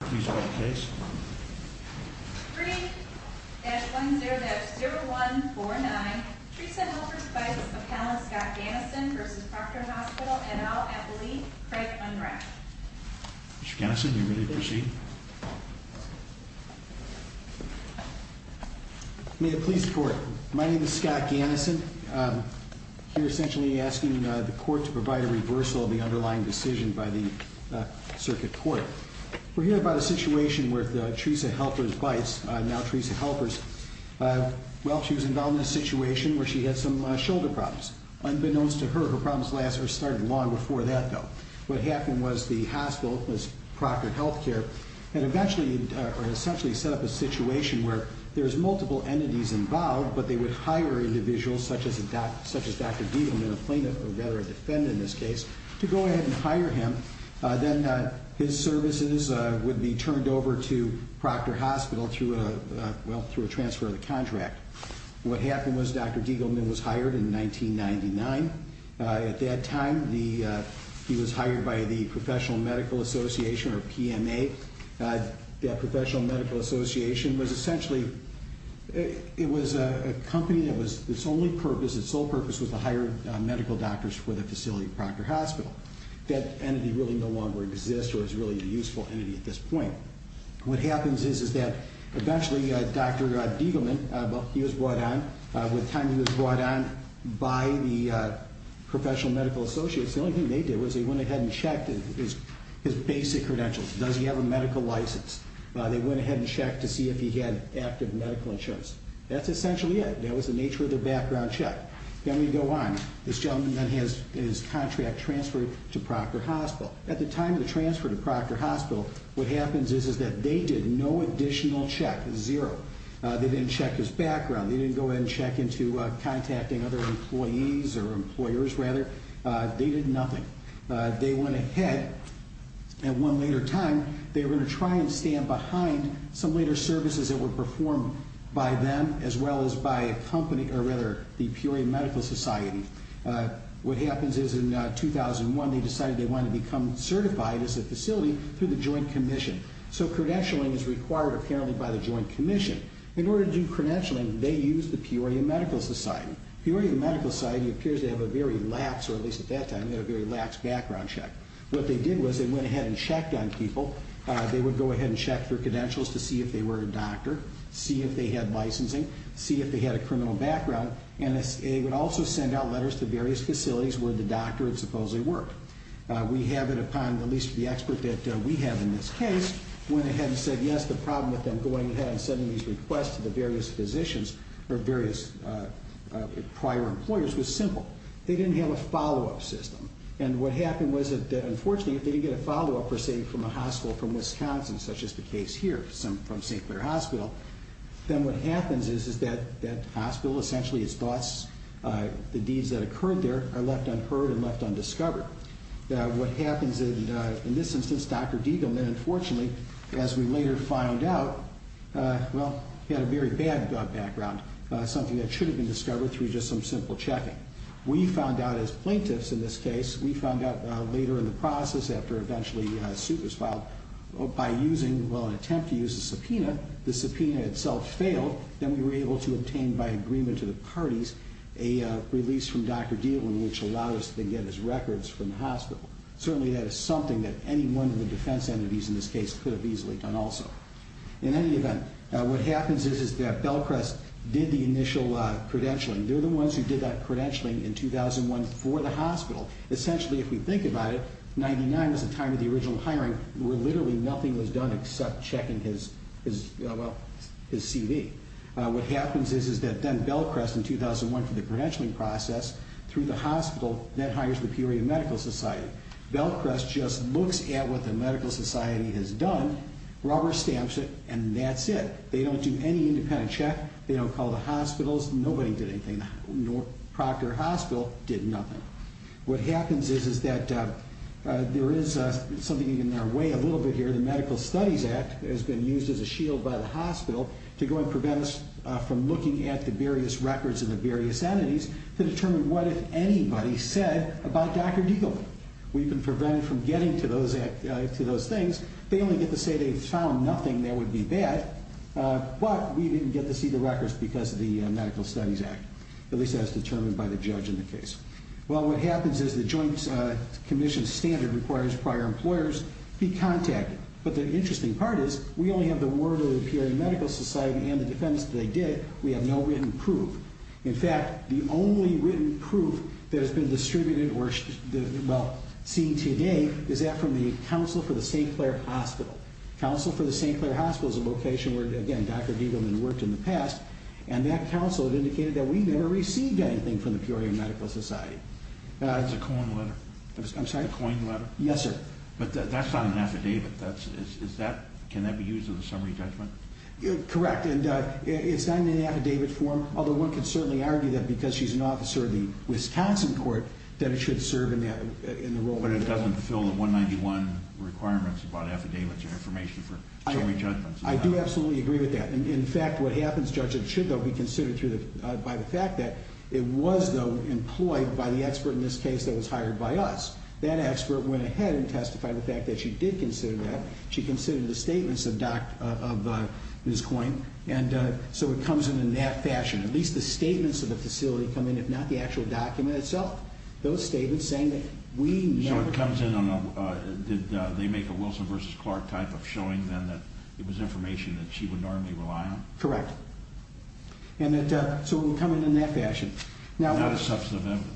3-1-0-0-1-4-9 Treson-Helfers-Beitz appellant Scott Gannison v. Proctor Hospital et al. at the Lee-Craig-Unrack Mr. Gannison, are you ready to proceed? May it please the court. My name is Scott Gannison. I'm here essentially asking the court to provide a reversal of the underlying decision by the circuit court. We're here about a situation where Treson-Helfers-Beitz, now Treson-Helfers, well, she was involved in a situation where she had some shoulder problems. Unbeknownst to her, her problems started long before that, though. What happened was the hospital, Proctor Health Care, had essentially set up a situation where there's multiple entities involved, but they would hire individuals such as Dr. Diehlman, a plaintiff or rather a defendant in this case, to go ahead and hire him. Then his services would be turned over to Proctor Hospital through a transfer of the contract. What happened was Dr. Diehlman was hired in 1999. At that time, he was hired by the Professional Medical Association, or PMA. The Professional Medical Association was essentially, it was a company that was, its only purpose, its sole purpose was to hire medical doctors for the facility, Proctor Hospital. That entity really no longer exists or is really a useful entity at this point. What happens is that eventually Dr. Diehlman, he was brought on, with time he was brought on by the Professional Medical Associates. The only thing they did was they went ahead and checked his basic credentials. Does he have a medical license? They went ahead and checked to see if he had active medical insurance. That's essentially it. That was the nature of the background check. Then we go on. This gentleman then has his contract transferred to Proctor Hospital. At the time of the transfer to Proctor Hospital, what happens is that they did no additional check. Zero. They didn't check his background. They didn't go ahead and check into contacting other employees or employers rather. They did nothing. They went ahead at one later time. They were going to try and stand behind some later services that were performed by them as well as by a company or rather the Peoria Medical Society. What happens is in 2001 they decided they wanted to become certified as a facility through the Joint Commission. So credentialing is required apparently by the Joint Commission. In order to do credentialing, they used the Peoria Medical Society. Peoria Medical Society appears to have a very lax or at least at that time they had a very lax background check. What they did was they went ahead and checked on people. They would go ahead and check their credentials to see if they were a doctor, see if they had licensing, see if they had a criminal background, and they would also send out letters to various facilities where the doctor supposedly worked. We have it upon at least the expert that we have in this case went ahead and said yes. That's the problem with them going ahead and sending these requests to the various physicians or various prior employers was simple. They didn't have a follow-up system. And what happened was that unfortunately if they didn't get a follow-up, let's say from a hospital from Wisconsin such as the case here from St. Clair Hospital, then what happens is that that hospital essentially is thus the deeds that occurred there are left unheard and left undiscovered. What happens in this instance, Dr. Diegelman unfortunately as we later find out, well, he had a very bad background, something that should have been discovered through just some simple checking. We found out as plaintiffs in this case, we found out later in the process after eventually a suit was filed by using, well, an attempt to use a subpoena. The subpoena itself failed. Then we were able to obtain by agreement to the parties a release from Dr. Diegelman which allowed us to get his records from the hospital. Certainly that is something that any one of the defense entities in this case could have easily done also. In any event, what happens is that Bellcrest did the initial credentialing. They're the ones who did that credentialing in 2001 for the hospital. Essentially, if we think about it, 99 was the time of the original hiring where literally nothing was done except checking his, well, his CV. What happens is that then Bellcrest in 2001 for the credentialing process through the hospital then hires the Peoria Medical Society. Bellcrest just looks at what the medical society has done, rubber stamps it, and that's it. They don't do any independent check. They don't call the hospitals. Nobody did anything. The Proctor Hospital did nothing. What happens is that there is something in our way a little bit here. The Medical Studies Act has been used as a shield by the hospital to go and prevent us from looking at the various records of the various entities to determine what, if anybody, said about Dr. Diegelman. We've been prevented from getting to those things. They only get to say they found nothing that would be bad, but we didn't get to see the records because of the Medical Studies Act, at least as determined by the judge in the case. Well, what happens is the Joint Commission standard requires prior employers to be contacted, but the interesting part is we only have the word of the Peoria Medical Society and the defense that they did. We have no written proof. In fact, the only written proof that has been distributed or seen today is that from the Council for the St. Clair Hospital. The Council for the St. Clair Hospital is a location where, again, Dr. Diegelman worked in the past, and that council had indicated that we never received anything from the Peoria Medical Society. It's a coin letter. I'm sorry? A coin letter. Yes, sir. But that's not an affidavit. Can that be used in a summary judgment? Correct, and it's not in an affidavit form, although one could certainly argue that because she's an officer of the Wisconsin court that it should serve in the role of an affidavit. But it doesn't fulfill the 191 requirements about affidavits or information for summary judgments. I do absolutely agree with that. In fact, what happens, Judge, it should, though, be considered by the fact that it was, though, employed by the expert in this case that was hired by us. That expert went ahead and testified the fact that she did consider that. She considered the statements of Ms. Coyne. And so it comes in in that fashion. At least the statements of the facility come in, if not the actual document itself. Those statements saying that we never. Did they make a Wilson v. Clark type of showing then that it was information that she would normally rely on? Correct. So it would come in in that fashion. Not as substantive evidence.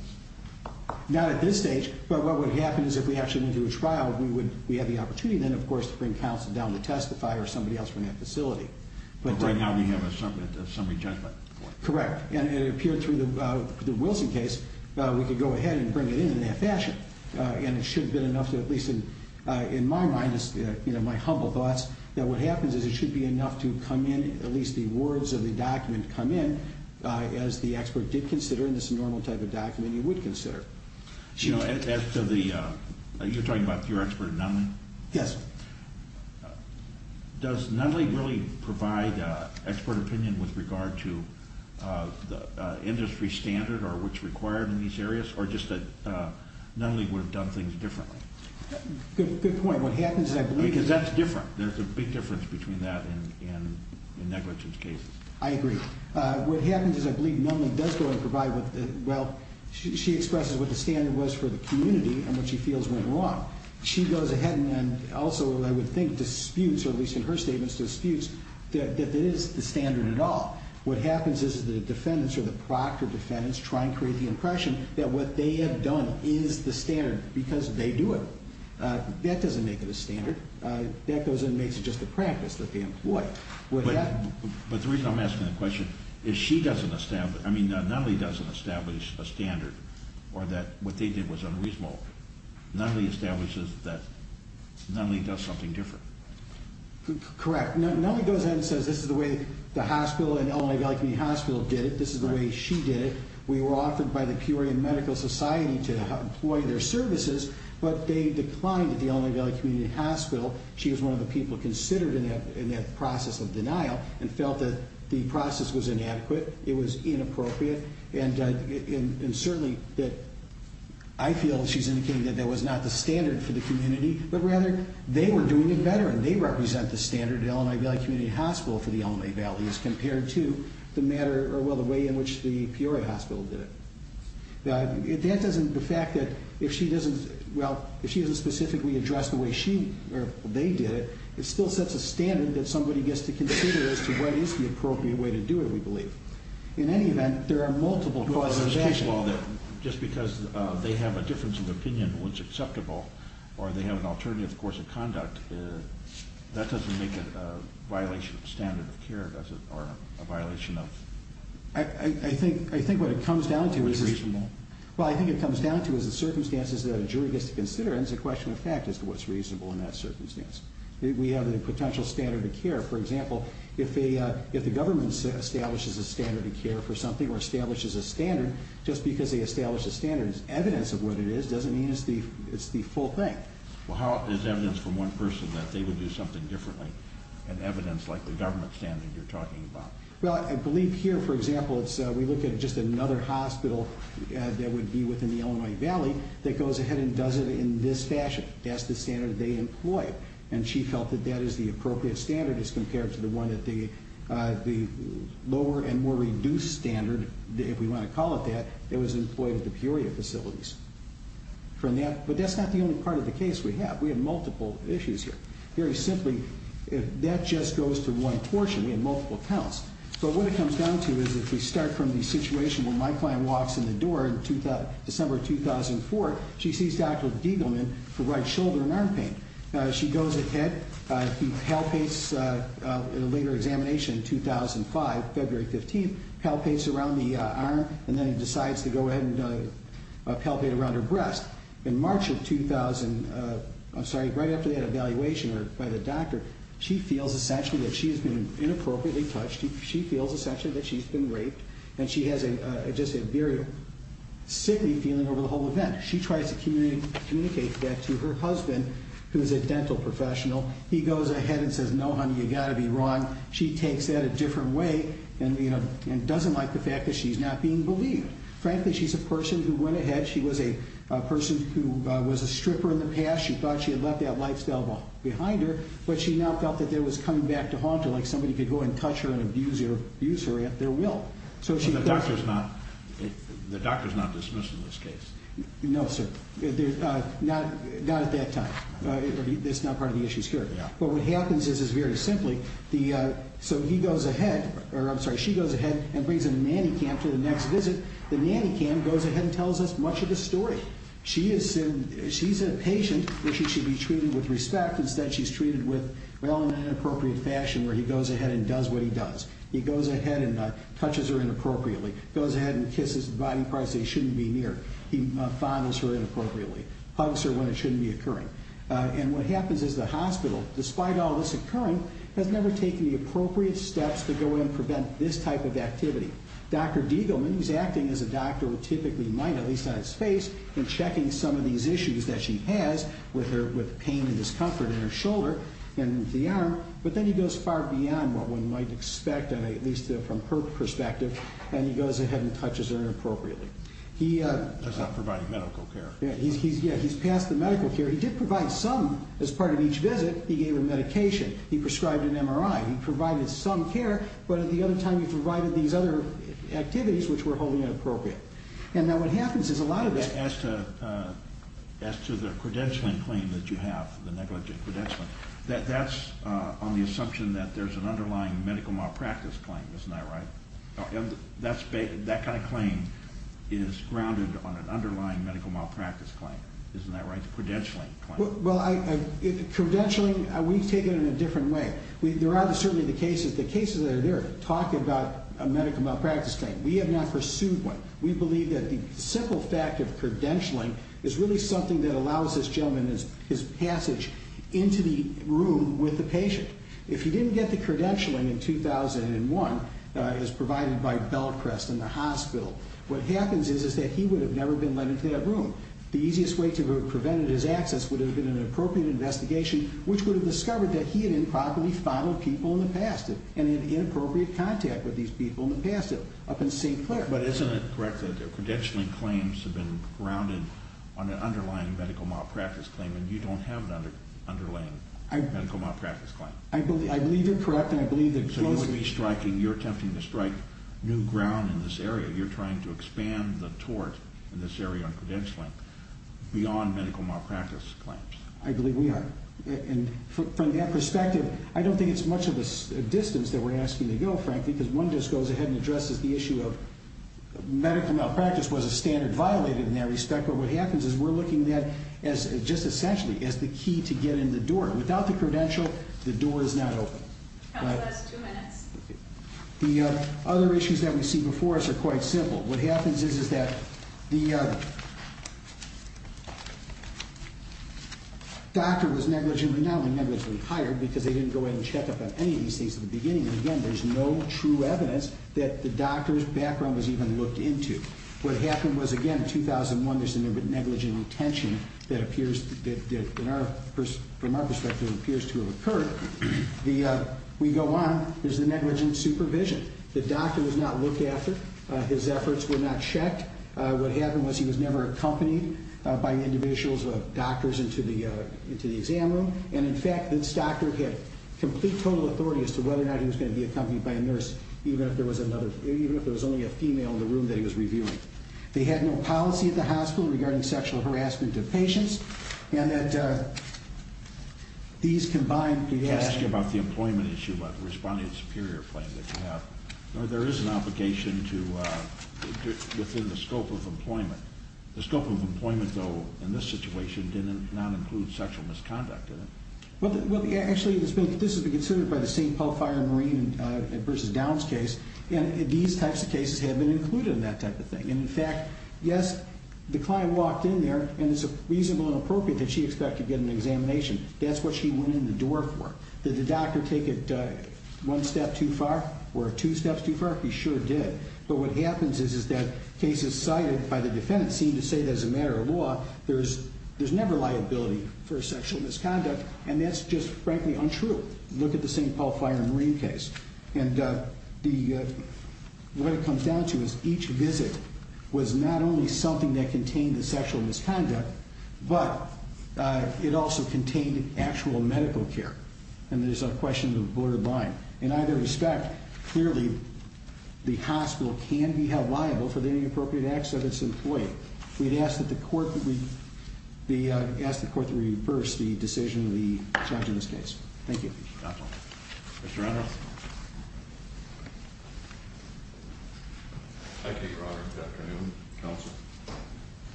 Not at this stage. But what would happen is if we actually went through a trial, we would have the opportunity then, of course, to bring counsel down to testify or somebody else from that facility. But right now we have a summary judgment. Correct. And it appeared through the Wilson case, we could go ahead and bring it in in that fashion. And it should have been enough to, at least in my mind, my humble thoughts, that what happens is it should be enough to come in, at least the words of the document come in, as the expert did consider in this normal type of document you would consider. You know, as to the, you're talking about your expert Nunley? Yes. Does Nunley really provide expert opinion with regard to the industry standard or what's required in these areas? Or just that Nunley would have done things differently? Good point. Because that's different. There's a big difference between that and negligence cases. I agree. What happens is I believe Nunley does go and provide, well, she expresses what the standard was for the community and what she feels went wrong. She goes ahead and also, I would think, disputes, or at least in her statements disputes, that it is the standard at all. What happens is the defendants or the proctor defendants try and create the impression that what they have done is the standard because they do it. That doesn't make it a standard. That goes in and makes it just a practice that they employ. But the reason I'm asking the question is she doesn't establish, I mean, Nunley doesn't establish a standard or that what they did was unreasonable. Nunley establishes that Nunley does something different. Correct. Nunley goes ahead and says this is the way the hospital and Illinois Valley Community Hospital did it. This is the way she did it. We were offered by the Peoria Medical Society to employ their services, but they declined at the Illinois Valley Community Hospital. She was one of the people considered in that process of denial and felt that the process was inadequate, it was inappropriate, and certainly I feel she's indicating that that was not the standard for the community, but rather they were doing it better and they represent the standard at Illinois Valley Community Hospital for the Illinois Valley as compared to the way in which the Peoria Hospital did it. That doesn't, the fact that if she doesn't, well, if she doesn't specifically address the way she or they did it, it still sets a standard that somebody gets to consider as to what is the appropriate way to do it, we believe. In any event, there are multiple causes of action. Well, just because they have a difference of opinion on what's acceptable or they have an alternative course of conduct, that doesn't make it a violation of standard of care, does it, or a violation of what's reasonable? Well, I think what it comes down to is the circumstances that a jury gets to consider and it's a question of fact as to what's reasonable in that circumstance. We have a potential standard of care. For example, if the government establishes a standard of care for something or establishes a standard, just because they establish a standard as evidence of what it is doesn't mean it's the full thing. Well, how is evidence from one person that they would do something differently and evidence like the government standard you're talking about? Well, I believe here, for example, we look at just another hospital that would be within the Illinois Valley that goes ahead and does it in this fashion. That's the standard they employ, and she felt that that is the appropriate standard as compared to the one at the lower and more reduced standard, if we want to call it that, that was employed at the Peoria facilities. But that's not the only part of the case we have. We have multiple issues here. Very simply, that just goes to one portion. We have multiple counts. But what it comes down to is if we start from the situation where my client walks in the door in December 2004, she sees Dr. Diegelman provide shoulder and arm pain. She goes ahead, he palpates in a later examination in 2005, February 15th, palpates around the arm, and then he decides to go ahead and palpate around her breast. In March of 2000, I'm sorry, right after that evaluation by the doctor, she feels essentially that she has been inappropriately touched. She feels essentially that she's been raped, and she has just a very sickly feeling over the whole event. She tries to communicate that to her husband, who is a dental professional. He goes ahead and says, no, honey, you've got to be wrong. She takes that a different way and doesn't like the fact that she's not being believed. Frankly, she's a person who went ahead. She was a person who was a stripper in the past. She thought she had left that lifestyle behind her, but she now felt that there was coming back to haunt her, like somebody could go and touch her and abuse her at their will. So the doctor's not dismissing this case? No, sir. Not at that time. That's not part of the issue here. But what happens is very simply, so he goes ahead, or I'm sorry, she goes ahead and brings a nanny cam to the next visit. The nanny cam goes ahead and tells us much of the story. She's a patient that she should be treated with respect. Instead, she's treated with, well, in an inappropriate fashion, where he goes ahead and does what he does. He goes ahead and touches her inappropriately, goes ahead and kisses the body parts they shouldn't be near. He fondles her inappropriately, hugs her when it shouldn't be occurring. And what happens is the hospital, despite all this occurring, has never taken the appropriate steps to go in and prevent this type of activity. Dr. Degelman, who's acting as a doctor who typically might, at least on his face, in checking some of these issues that she has with pain and discomfort in her shoulder and the arm, but then he goes far beyond what one might expect, at least from her perspective, and he goes ahead and touches her inappropriately. That's not providing medical care. Yeah, he's passed the medical care. He did provide some as part of each visit. He gave her medication. He prescribed an MRI. He provided some care, but at the other time he provided these other activities, which were wholly inappropriate. And now what happens is a lot of that— As to the credentialing claim that you have, the negligent credentialing, that's on the assumption that there's an underlying medical malpractice claim. Isn't that right? That kind of claim is grounded on an underlying medical malpractice claim. Isn't that right? The credentialing claim. Well, credentialing, we take it in a different way. There are certainly the cases that are there talking about a medical malpractice claim. We have not pursued one. We believe that the simple fact of credentialing is really something that allows this gentleman, his passage into the room with the patient. If he didn't get the credentialing in 2001, as provided by Bellcrest in the hospital, what happens is that he would have never been let into that room. The easiest way to have prevented his access would have been an appropriate investigation, which would have discovered that he had improperly followed people in the past and had inappropriate contact with these people in the past up in St. Clair. But isn't it correct that credentialing claims have been grounded on an underlying medical malpractice claim and you don't have an underlying medical malpractice claim? I believe you're correct. So you're attempting to strike new ground in this area. You're trying to expand the tort in this area on credentialing beyond medical malpractice claims. I believe we are. From that perspective, I don't think it's much of a distance that we're asking to go, frankly, because one just goes ahead and addresses the issue of medical malpractice was a standard violated in that respect, but what happens is we're looking at that just essentially as the key to get in the door. Without the credential, the door is not open. Counsel, that's two minutes. The other issues that we see before us are quite simple. What happens is that the doctor was negligently, not only negligently hired because they didn't go ahead and check up on any of these things in the beginning, and, again, there's no true evidence that the doctor's background was even looked into. What happened was, again, in 2001 there's a negligent retention that from our perspective appears to have occurred. We go on. There's a negligent supervision. The doctor was not looked after. His efforts were not checked. What happened was he was never accompanied by individuals or doctors into the exam room, and, in fact, this doctor had complete total authority as to whether or not he was going to be accompanied by a nurse, even if there was only a female in the room that he was reviewing. They had no policy at the hospital regarding sexual harassment of patients, and that these combined could have- Can I ask you about the employment issue, about the responding to superior claim that you have? The scope of employment, though, in this situation did not include sexual misconduct, did it? Well, actually, this has been considered by the St. Palfire Marine v. Downs case, and these types of cases have been included in that type of thing. And, in fact, yes, the client walked in there, and it's reasonable and appropriate that she expect to get an examination. That's what she went in the door for. Did the doctor take it one step too far or two steps too far? He sure did. But what happens is that cases cited by the defendant seem to say that, as a matter of law, there's never liability for sexual misconduct, and that's just, frankly, untrue. Look at the St. Palfire Marine case. And what it comes down to is each visit was not only something that contained the sexual misconduct, but it also contained actual medical care, and there's a question of borderline. In either respect, clearly the hospital can be held liable for the inappropriate acts of its employee. We'd ask the court to reverse the decision of the judge in this case. Thank you. Mr. Reynolds? Thank you, Your Honor, Dr. Newman, counsel.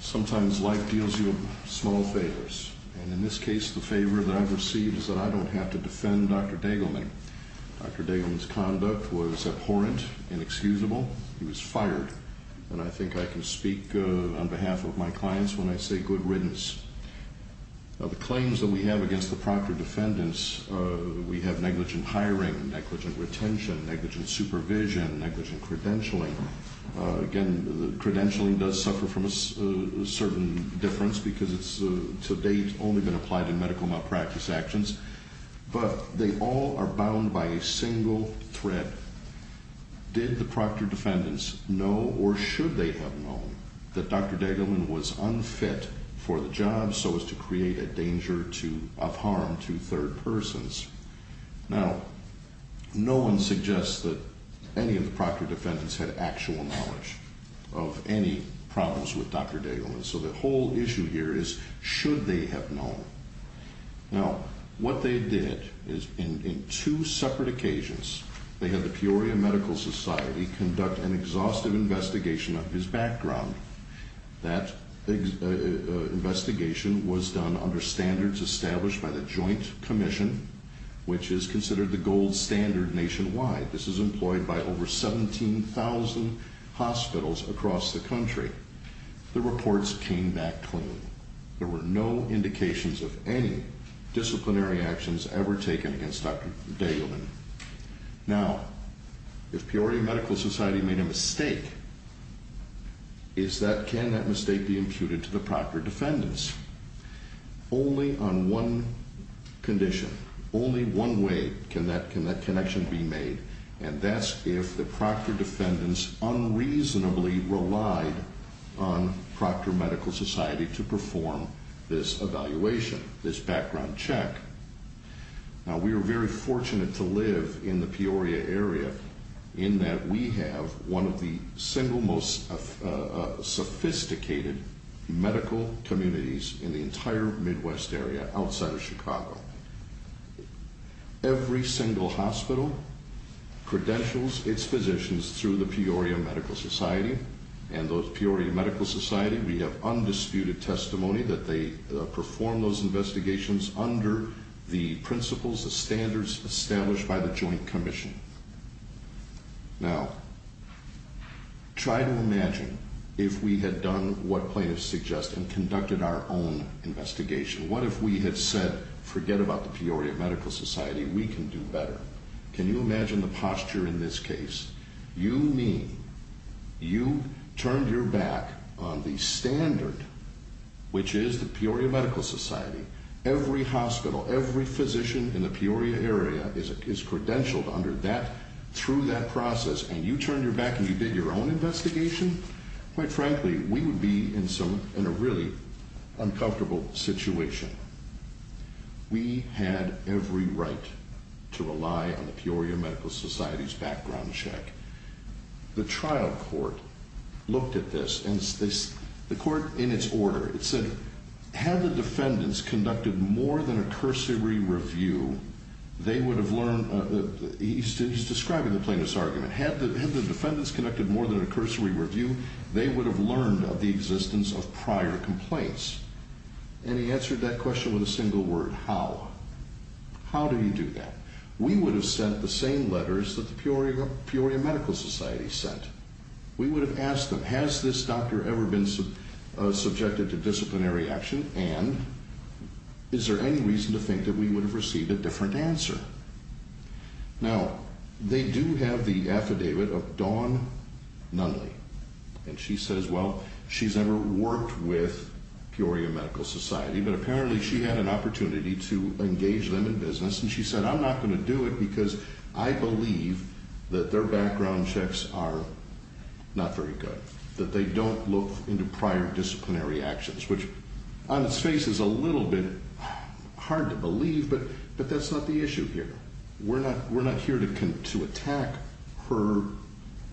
Sometimes life deals you small favors, and in this case the favor that I've received is that I don't have to defend Dr. Dagelman. Dr. Dagelman's conduct was abhorrent, inexcusable. He was fired. And I think I can speak on behalf of my clients when I say good riddance. The claims that we have against the proctored defendants, we have negligent hiring, negligent retention, negligent supervision, negligent credentialing. Again, the credentialing does suffer from a certain difference because it's to date only been applied in medical malpractice actions. But they all are bound by a single thread. Did the proctored defendants know or should they have known that Dr. Dagelman was unfit for the job so as to create a danger of harm to third persons? Now, no one suggests that any of the proctored defendants had actual knowledge of any problems with Dr. Dagelman. So the whole issue here is should they have known. Now, what they did is in two separate occasions they had the Peoria Medical Society conduct an exhaustive investigation of his background. That investigation was done under standards established by the Joint Commission, which is considered the gold standard nationwide. This is employed by over 17,000 hospitals across the country. The reports came back clean. There were no indications of any disciplinary actions ever taken against Dr. Dagelman. Now, if Peoria Medical Society made a mistake, can that mistake be imputed to the proctored defendants? Only on one condition, only one way can that connection be made, and that's if the proctored defendants unreasonably relied on Proctor Medical Society to perform this evaluation, this background check. Now, we are very fortunate to live in the Peoria area in that we have one of the single most sophisticated medical communities in the entire Midwest area outside of Chicago. Every single hospital credentials its physicians through the Peoria Medical Society, and those Peoria Medical Society, we have undisputed testimony that they performed those investigations under the principles, the standards established by the Joint Commission. Now, try to imagine if we had done what plaintiffs suggest and conducted our own investigation. What if we had said, forget about the Peoria Medical Society? We can do better. Can you imagine the posture in this case? You mean you turned your back on the standard, which is the Peoria Medical Society? Every hospital, every physician in the Peoria area is credentialed through that process, and you turned your back and you did your own investigation? Quite frankly, we would be in a really uncomfortable situation. We had every right to rely on the Peoria Medical Society's background check. The trial court looked at this, and the court, in its order, it said, had the defendants conducted more than a cursory review, they would have learned, he's describing the plaintiff's argument, had the defendants conducted more than a cursory review, they would have learned of the existence of prior complaints. And he answered that question with a single word, how? How do you do that? We would have sent the same letters that the Peoria Medical Society sent. We would have asked them, has this doctor ever been subjected to disciplinary action, and is there any reason to think that we would have received a different answer? Now, they do have the affidavit of Dawn Nunley, and she says, well, she's never worked with Peoria Medical Society, but apparently she had an opportunity to engage them in business, and she said, I'm not going to do it because I believe that their background checks are not very good, that they don't look into prior disciplinary actions, which on its face is a little bit hard to believe, but that's not the issue here. We're not here to attack her,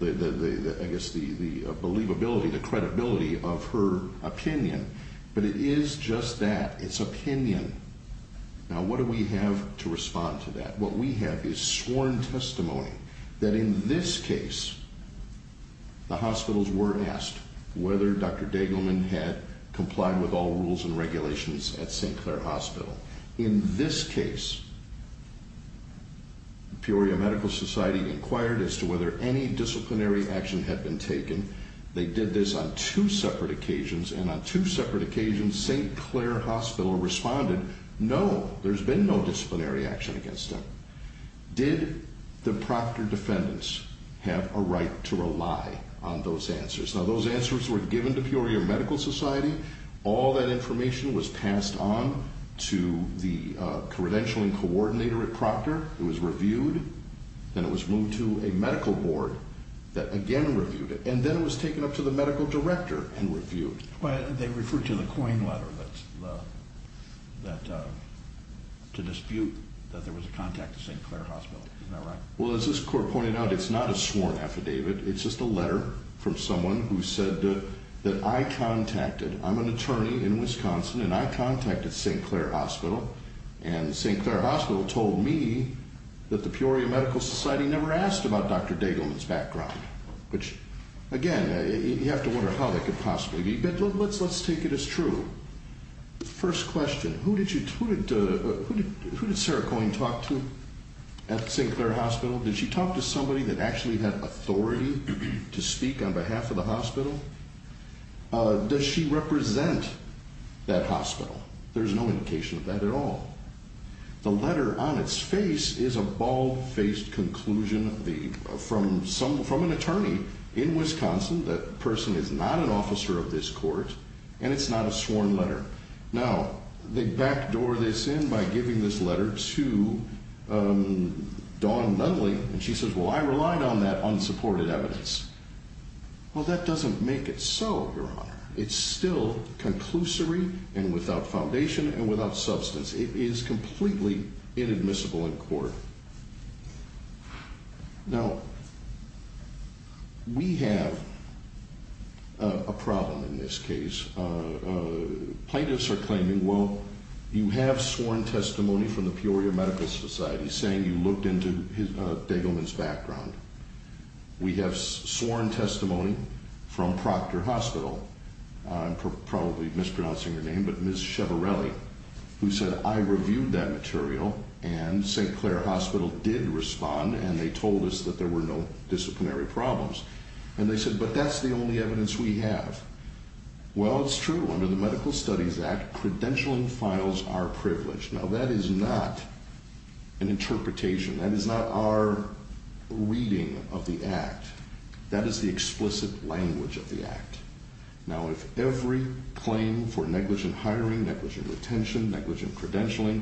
I guess, the believability, the credibility of her opinion, but it is just that, it's opinion. Now, what do we have to respond to that? What we have is sworn testimony that in this case the hospitals were asked whether Dr. Degelman had complied with all rules and regulations at St. Clair Hospital. In this case, Peoria Medical Society inquired as to whether any disciplinary action had been taken. They did this on two separate occasions, and on two separate occasions, St. Clair Hospital responded, no, there's been no disciplinary action against them. Did the proctor defendants have a right to rely on those answers? Now, those answers were given to Peoria Medical Society. All that information was passed on to the credentialing coordinator at Proctor. It was reviewed, then it was moved to a medical board that again reviewed it, and then it was taken up to the medical director and reviewed. They referred to the coin letter to dispute that there was a contact at St. Clair Hospital. Isn't that right? Well, as this court pointed out, it's not a sworn affidavit. It's just a letter from someone who said that I contacted. I'm an attorney in Wisconsin, and I contacted St. Clair Hospital, and St. Clair Hospital told me that the Peoria Medical Society never asked about Dr. Degelman's background, which again, you have to wonder how that could possibly be, but let's take it as true. First question, who did Sarah Coyne talk to at St. Clair Hospital? Did she talk to somebody that actually had authority to speak on behalf of the hospital? Does she represent that hospital? There's no indication of that at all. The letter on its face is a bald-faced conclusion from an attorney in Wisconsin. That person is not an officer of this court, and it's not a sworn letter. Now, they backdoor this in by giving this letter to Dawn Nunley, and she says, well, I relied on that unsupported evidence. Well, that doesn't make it so, Your Honor. It's still conclusory and without foundation and without substance. It is completely inadmissible in court. Now, we have a problem in this case. Plaintiffs are claiming, well, you have sworn testimony from the Peoria Medical Society saying you looked into Degelman's background. We have sworn testimony from Proctor Hospital, I'm probably mispronouncing her name, but Ms. Chevarelli, who said, I reviewed that material, and St. Clair Hospital did respond, and they told us that there were no disciplinary problems. And they said, but that's the only evidence we have. Well, it's true. Under the Medical Studies Act, credentialing files are privileged. Now, that is not an interpretation. That is not our reading of the Act. That is the explicit language of the Act. Now, if every claim for negligent hiring, negligent retention, negligent credentialing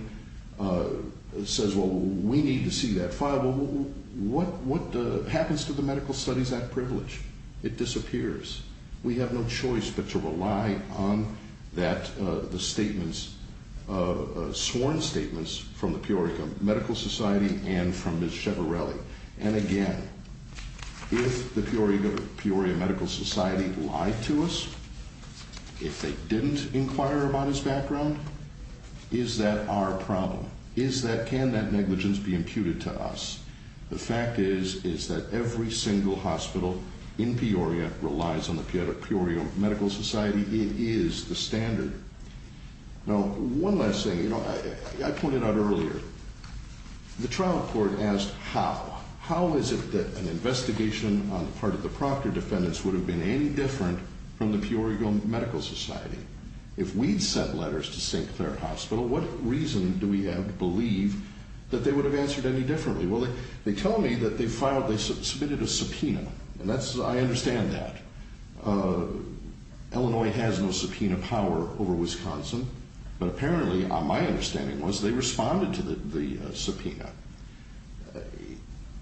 says, well, we need to see that file, well, what happens to the Medical Studies Act privilege? It disappears. We have no choice but to rely on the sworn statements from the Peoria Medical Society and from Ms. Chevarelli. And again, if the Peoria Medical Society lied to us, if they didn't inquire about his background, is that our problem? Is that, can that negligence be imputed to us? The fact is, is that every single hospital in Peoria relies on the Peoria Medical Society. It is the standard. Now, one last thing. You know, I pointed out earlier, the trial court asked how. How is it that an investigation on the part of the proctor defendants would have been any different from the Peoria Medical Society? If we'd sent letters to St. Clair Hospital, what reason do we have to believe that they would have answered any differently? Well, they tell me that they filed, they submitted a subpoena. And that's, I understand that. Illinois has no subpoena power over Wisconsin. But apparently, my understanding was, they responded to the subpoena.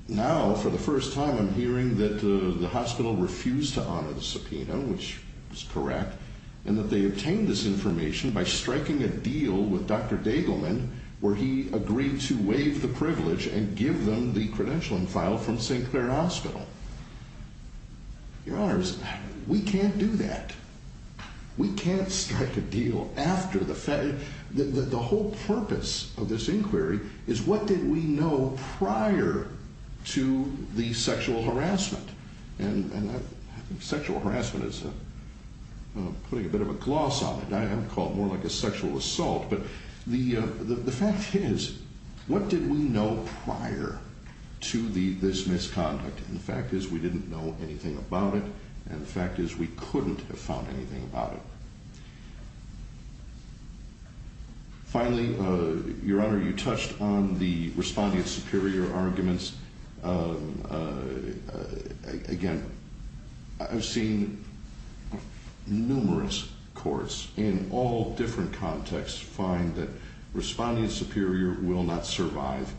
Now, for the first time, I'm hearing that the hospital refused to honor the subpoena, which is correct, and that they obtained this information by striking a deal with Dr. Degelman, where he agreed to waive the privilege and give them the credentialing file from St. Clair Hospital. Your Honors, we can't do that. We can't strike a deal after the fact. The whole purpose of this inquiry is, what did we know prior to the sexual harassment? And sexual harassment is putting a bit of a gloss on it. I would call it more like a sexual assault. But the fact is, what did we know prior to this misconduct? And the fact is, we didn't know anything about it. And the fact is, we couldn't have found anything about it. Finally, Your Honor, you touched on the respondent superior arguments. Again, I've seen numerous courts in all different contexts find that respondent superior will not survive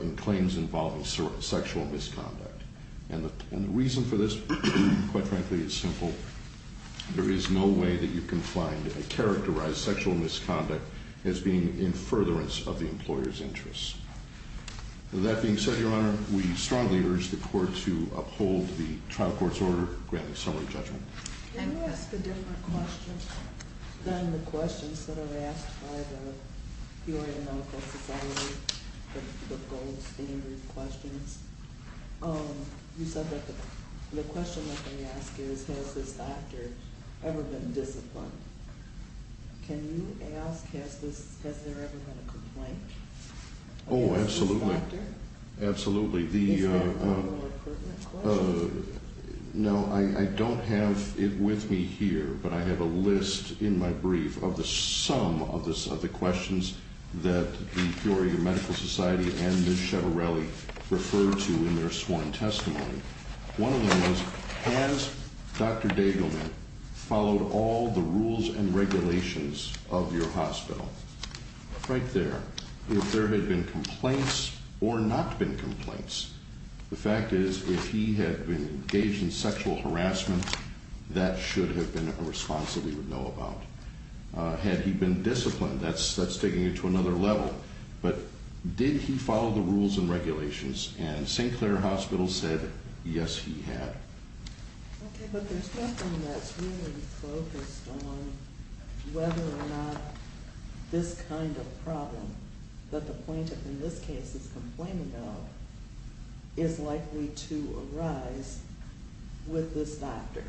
in claims involving sexual misconduct. And the reason for this, quite frankly, is simple. There is no way that you can find a characterized sexual misconduct as being in furtherance of the employer's interests. With that being said, Your Honor, we strongly urge the court to uphold the trial court's order and grant a summary judgment. Can you ask a different question than the questions that are asked by the Peoria Medical Society, the gold standard questions? You said that the question that they ask is, has this doctor ever been disciplined? Can you ask, has there ever been a complaint against this doctor? Oh, absolutely. Absolutely. Is that a more pertinent question? No, I don't have it with me here. But I have a list in my brief of the sum of the questions that the Peoria Medical Society and Ms. Chevarelli referred to in their sworn testimony. One of them was, has Dr. Dagelman followed all the rules and regulations of your hospital? Right there. If there had been complaints or not been complaints. The fact is, if he had been engaged in sexual harassment, that should have been a response that we would know about. Had he been disciplined, that's taking it to another level. But did he follow the rules and regulations? And St. Clair Hospital said, yes, he had. Okay, but there's nothing that's really focused on whether or not this kind of problem, that the plaintiff in this case is complaining of, is likely to arise with this doctor.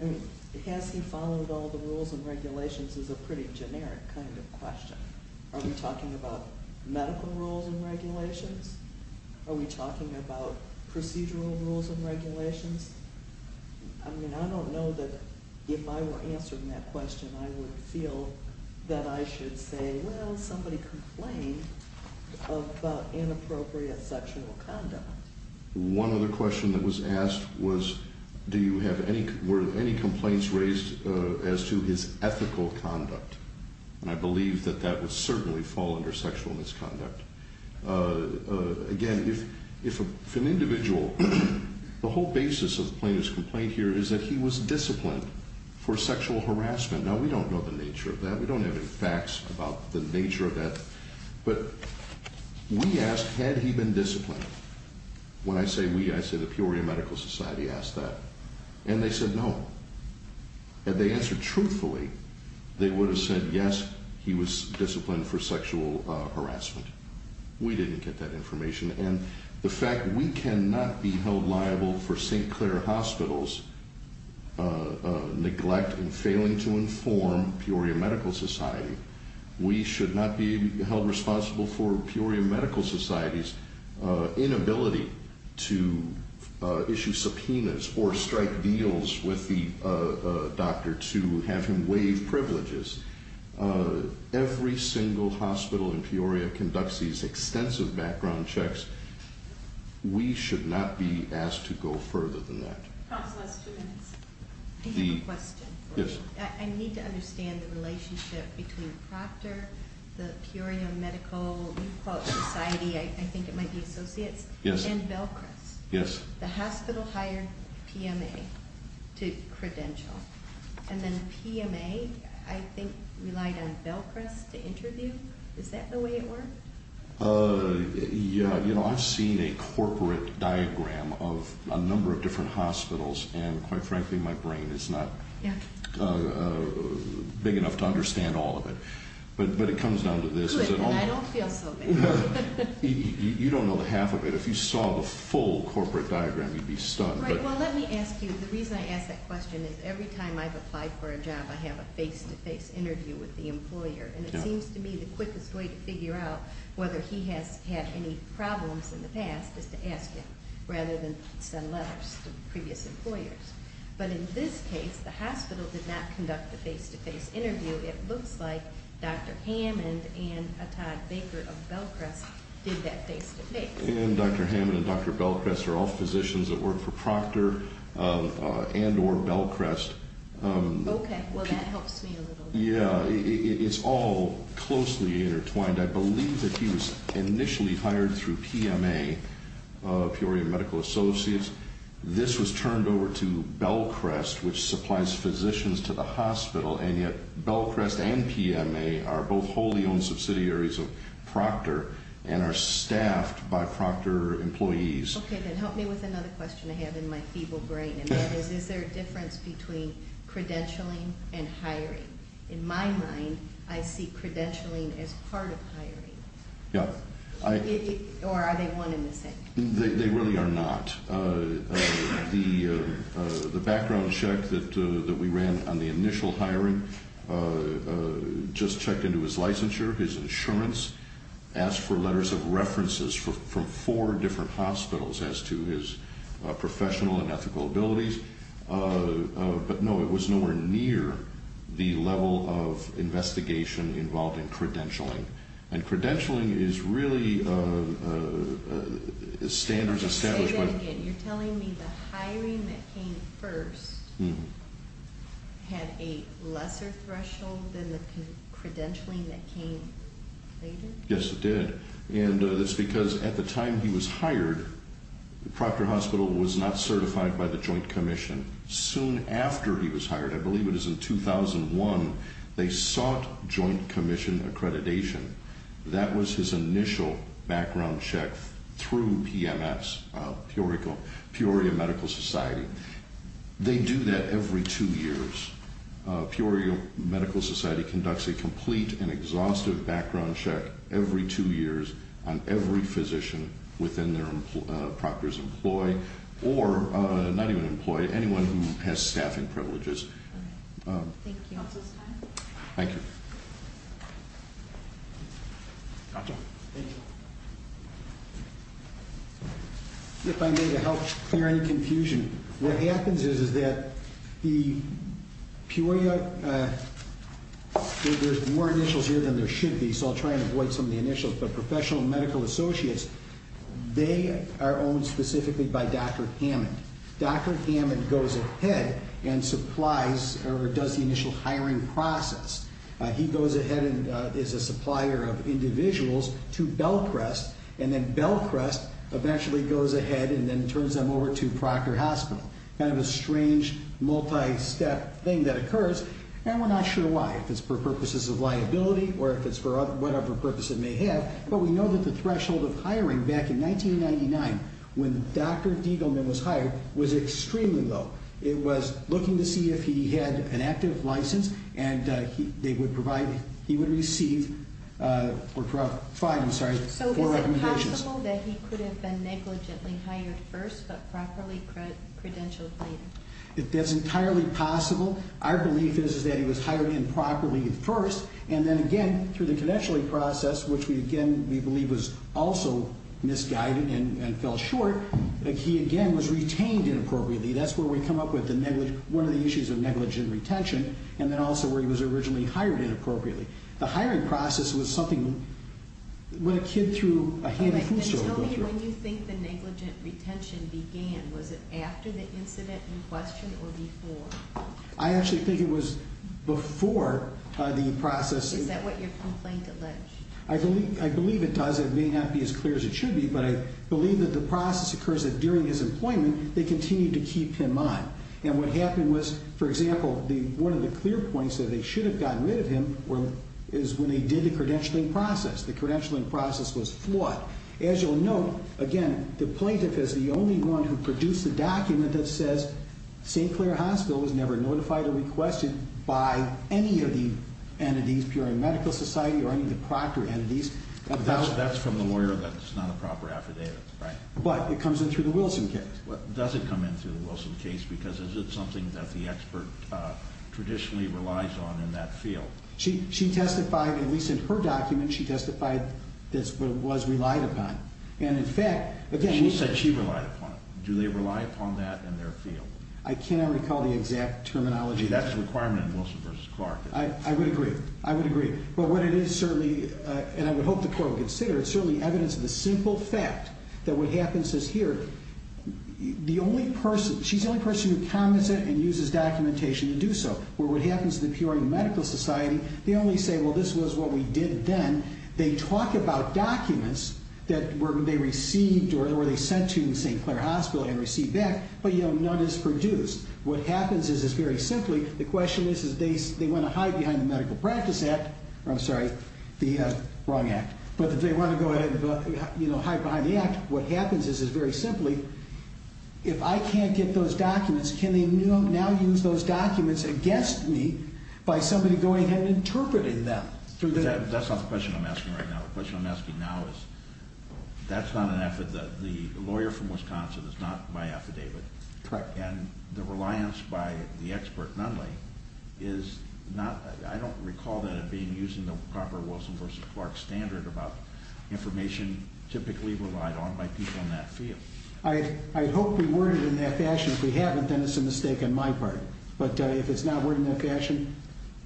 I mean, has he followed all the rules and regulations is a pretty generic kind of question. Are we talking about medical rules and regulations? Are we talking about procedural rules and regulations? I mean, I don't know that if I were answering that question, I would feel that I should say, well, somebody complained of inappropriate sexual conduct. One other question that was asked was, were any complaints raised as to his ethical conduct? And I believe that that would certainly fall under sexual misconduct. Again, if an individual, the whole basis of the plaintiff's complaint here is that he was disciplined for sexual harassment. Now, we don't know the nature of that. We don't have any facts about the nature of that. But we asked, had he been disciplined? When I say we, I say the Peoria Medical Society asked that. And they said no. Had they answered truthfully, they would have said yes, he was disciplined for sexual harassment. We didn't get that information. And the fact we cannot be held liable for St. Clair Hospital's neglect in failing to inform Peoria Medical Society. We should not be held responsible for Peoria Medical Society's inability to issue subpoenas or strike deals with the doctor to have him waive privileges. Every single hospital in Peoria conducts these extensive background checks. We should not be asked to go further than that. Counsel, last two minutes. I have a question. Yes. I need to understand the relationship between Proctor, the Peoria Medical Society, I think it might be Associates, and Belchrist. Yes. The hospital hired PMA to credential. And then PMA, I think, relied on Belchrist to interview. Is that the way it worked? Yeah. You know, I've seen a corporate diagram of a number of different hospitals. And quite frankly, my brain is not big enough to understand all of it. But it comes down to this. Good. And I don't feel so bad. You don't know half of it. If you saw the full corporate diagram, you'd be stunned. Right. Well, let me ask you. The reason I ask that question is every time I've applied for a job, I have a face-to-face interview with the employer. And it seems to me the quickest way to figure out whether he has had any problems in the past is to ask him rather than send letters to previous employers. But in this case, the hospital did not conduct a face-to-face interview. It looks like Dr. Hammond and Todd Baker of Belchrist did that face-to-face. And Dr. Hammond and Dr. Belchrist are all physicians that work for Proctor and or Belchrist. Well, that helps me a little bit. Yeah, it's all closely intertwined. I believe that he was initially hired through PMA, Peoria Medical Associates. This was turned over to Belchrist, which supplies physicians to the hospital. And yet Belchrist and PMA are both wholly-owned subsidiaries of Proctor and are staffed by Proctor employees. Okay, then help me with another question I have in my feeble brain. That is, is there a difference between credentialing and hiring? In my mind, I see credentialing as part of hiring. Yeah. Or are they one and the same? They really are not. The background check that we ran on the initial hiring just checked into his licensure, his insurance, asked for letters of references from four different hospitals as to his professional and ethical abilities. But, no, it was nowhere near the level of investigation involved in credentialing. And credentialing is really a standards establishment. Say that again. You're telling me the hiring that came first had a lesser threshold than the credentialing that came later? Yes, it did. And it's because at the time he was hired, Proctor Hospital was not certified by the Joint Commission. Soon after he was hired, I believe it was in 2001, they sought Joint Commission accreditation. That was his initial background check through PMS, Peoria Medical Society. They do that every two years. Peoria Medical Society conducts a complete and exhaustive background check every two years on every physician within their Proctor's employ, or not even employ, anyone who has staffing privileges. Thank you. Thank you. Thank you. If I may, to help clear any confusion, what happens is that the Peoria, there's more initials here than there should be, so I'll try and avoid some of the initials, but professional medical associates, they are owned specifically by Dr. Hammond. Dr. Hammond goes ahead and supplies, or does the initial hiring process. He goes ahead and is a supplier of individuals to Bellcrest, and then Bellcrest eventually goes ahead and then turns them over to Proctor Hospital. Kind of a strange multi-step thing that occurs, and we're not sure why. If it's for purposes of liability or if it's for whatever purpose it may have, but we know that the threshold of hiring back in 1999 when Dr. Diegelman was hired was extremely low. It was looking to see if he had an active license, and they would provide, he would receive, or provide, I'm sorry, So is it possible that he could have been negligently hired first but properly credentialed later? That's entirely possible. Our belief is that he was hired improperly first, and then again, through the credentialing process, which we believe was also misguided and fell short, he again was retained inappropriately. That's where we come up with one of the issues of negligent retention, and then also where he was originally hired inappropriately. The hiring process was something when a kid through a handy food store would go through. Tell me when you think the negligent retention began. Was it after the incident in question or before? I actually think it was before the process. Is that what your complaint alleged? I believe it does. It may not be as clear as it should be, but I believe that the process occurs that during his employment, they continued to keep him on, and what happened was, for example, one of the clear points that they should have gotten rid of him is when they did the credentialing process. The credentialing process was flawed. As you'll note, again, the plaintiff is the only one who produced the document that says St. Clair Hospital was never notified or requested by any of the entities, Peering Medical Society or any of the proctor entities. That's from the lawyer that's not a proper affidavit, right? But it comes in through the Wilson case. Does it come in through the Wilson case, because is it something that the expert traditionally relies on in that field? She testified, at least in her document, she testified that it was relied upon. She said she relied upon it. Do they rely upon that in their field? I cannot recall the exact terminology. See, that's a requirement in Wilson v. Clark. I would agree. I would agree. But what it is certainly, and I would hope the court would consider, it's certainly evidence of the simple fact that what happens is here, she's the only person who comments it and uses documentation to do so, where what happens to the Peering Medical Society, they only say, well, this was what we did then. They talk about documents that they received or they sent to St. Clair Hospital and received back, but, you know, none is produced. What happens is, is very simply, the question is, is they want to hide behind the Medical Practice Act. I'm sorry, the wrong act. But if they want to go ahead and, you know, hide behind the act, what happens is, is very simply, if I can't get those documents, can they now use those documents against me by somebody going ahead and interpreting them? That's not the question I'm asking right now. The question I'm asking now is, that's not an affidavit. The lawyer from Wisconsin is not my affidavit. Correct. And the reliance by the expert, Nunley, is not, I don't recall that it being using the proper Wilson v. Clark standard about information typically relied on by people in that field. I hope we worded it in that fashion. If we haven't, then it's a mistake on my part. But if it's not worded in that fashion,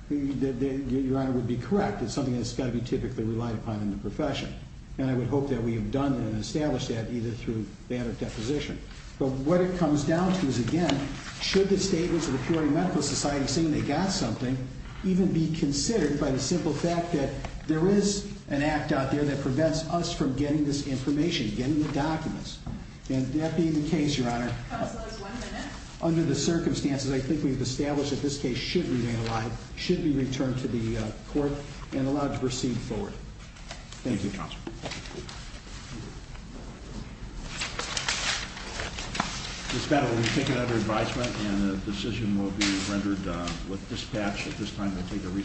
your Honor, it would be correct. It's something that's got to be typically relied upon in the profession. And I would hope that we have done and established that either through ban of deposition. But what it comes down to is, again, should the statements of the Peoria Medical Society saying they got something even be considered by the simple fact that there is an act out there that prevents us from getting this information, getting the documents. And that being the case, your Honor, under the circumstances, I think we've established that this case should remain alive, should be returned to the court, and allowed to proceed forward. Thank you. Thank you, Counsel. Thank you. Thank you. Thank you. Thank you. Thank you. Thank you. Thank you.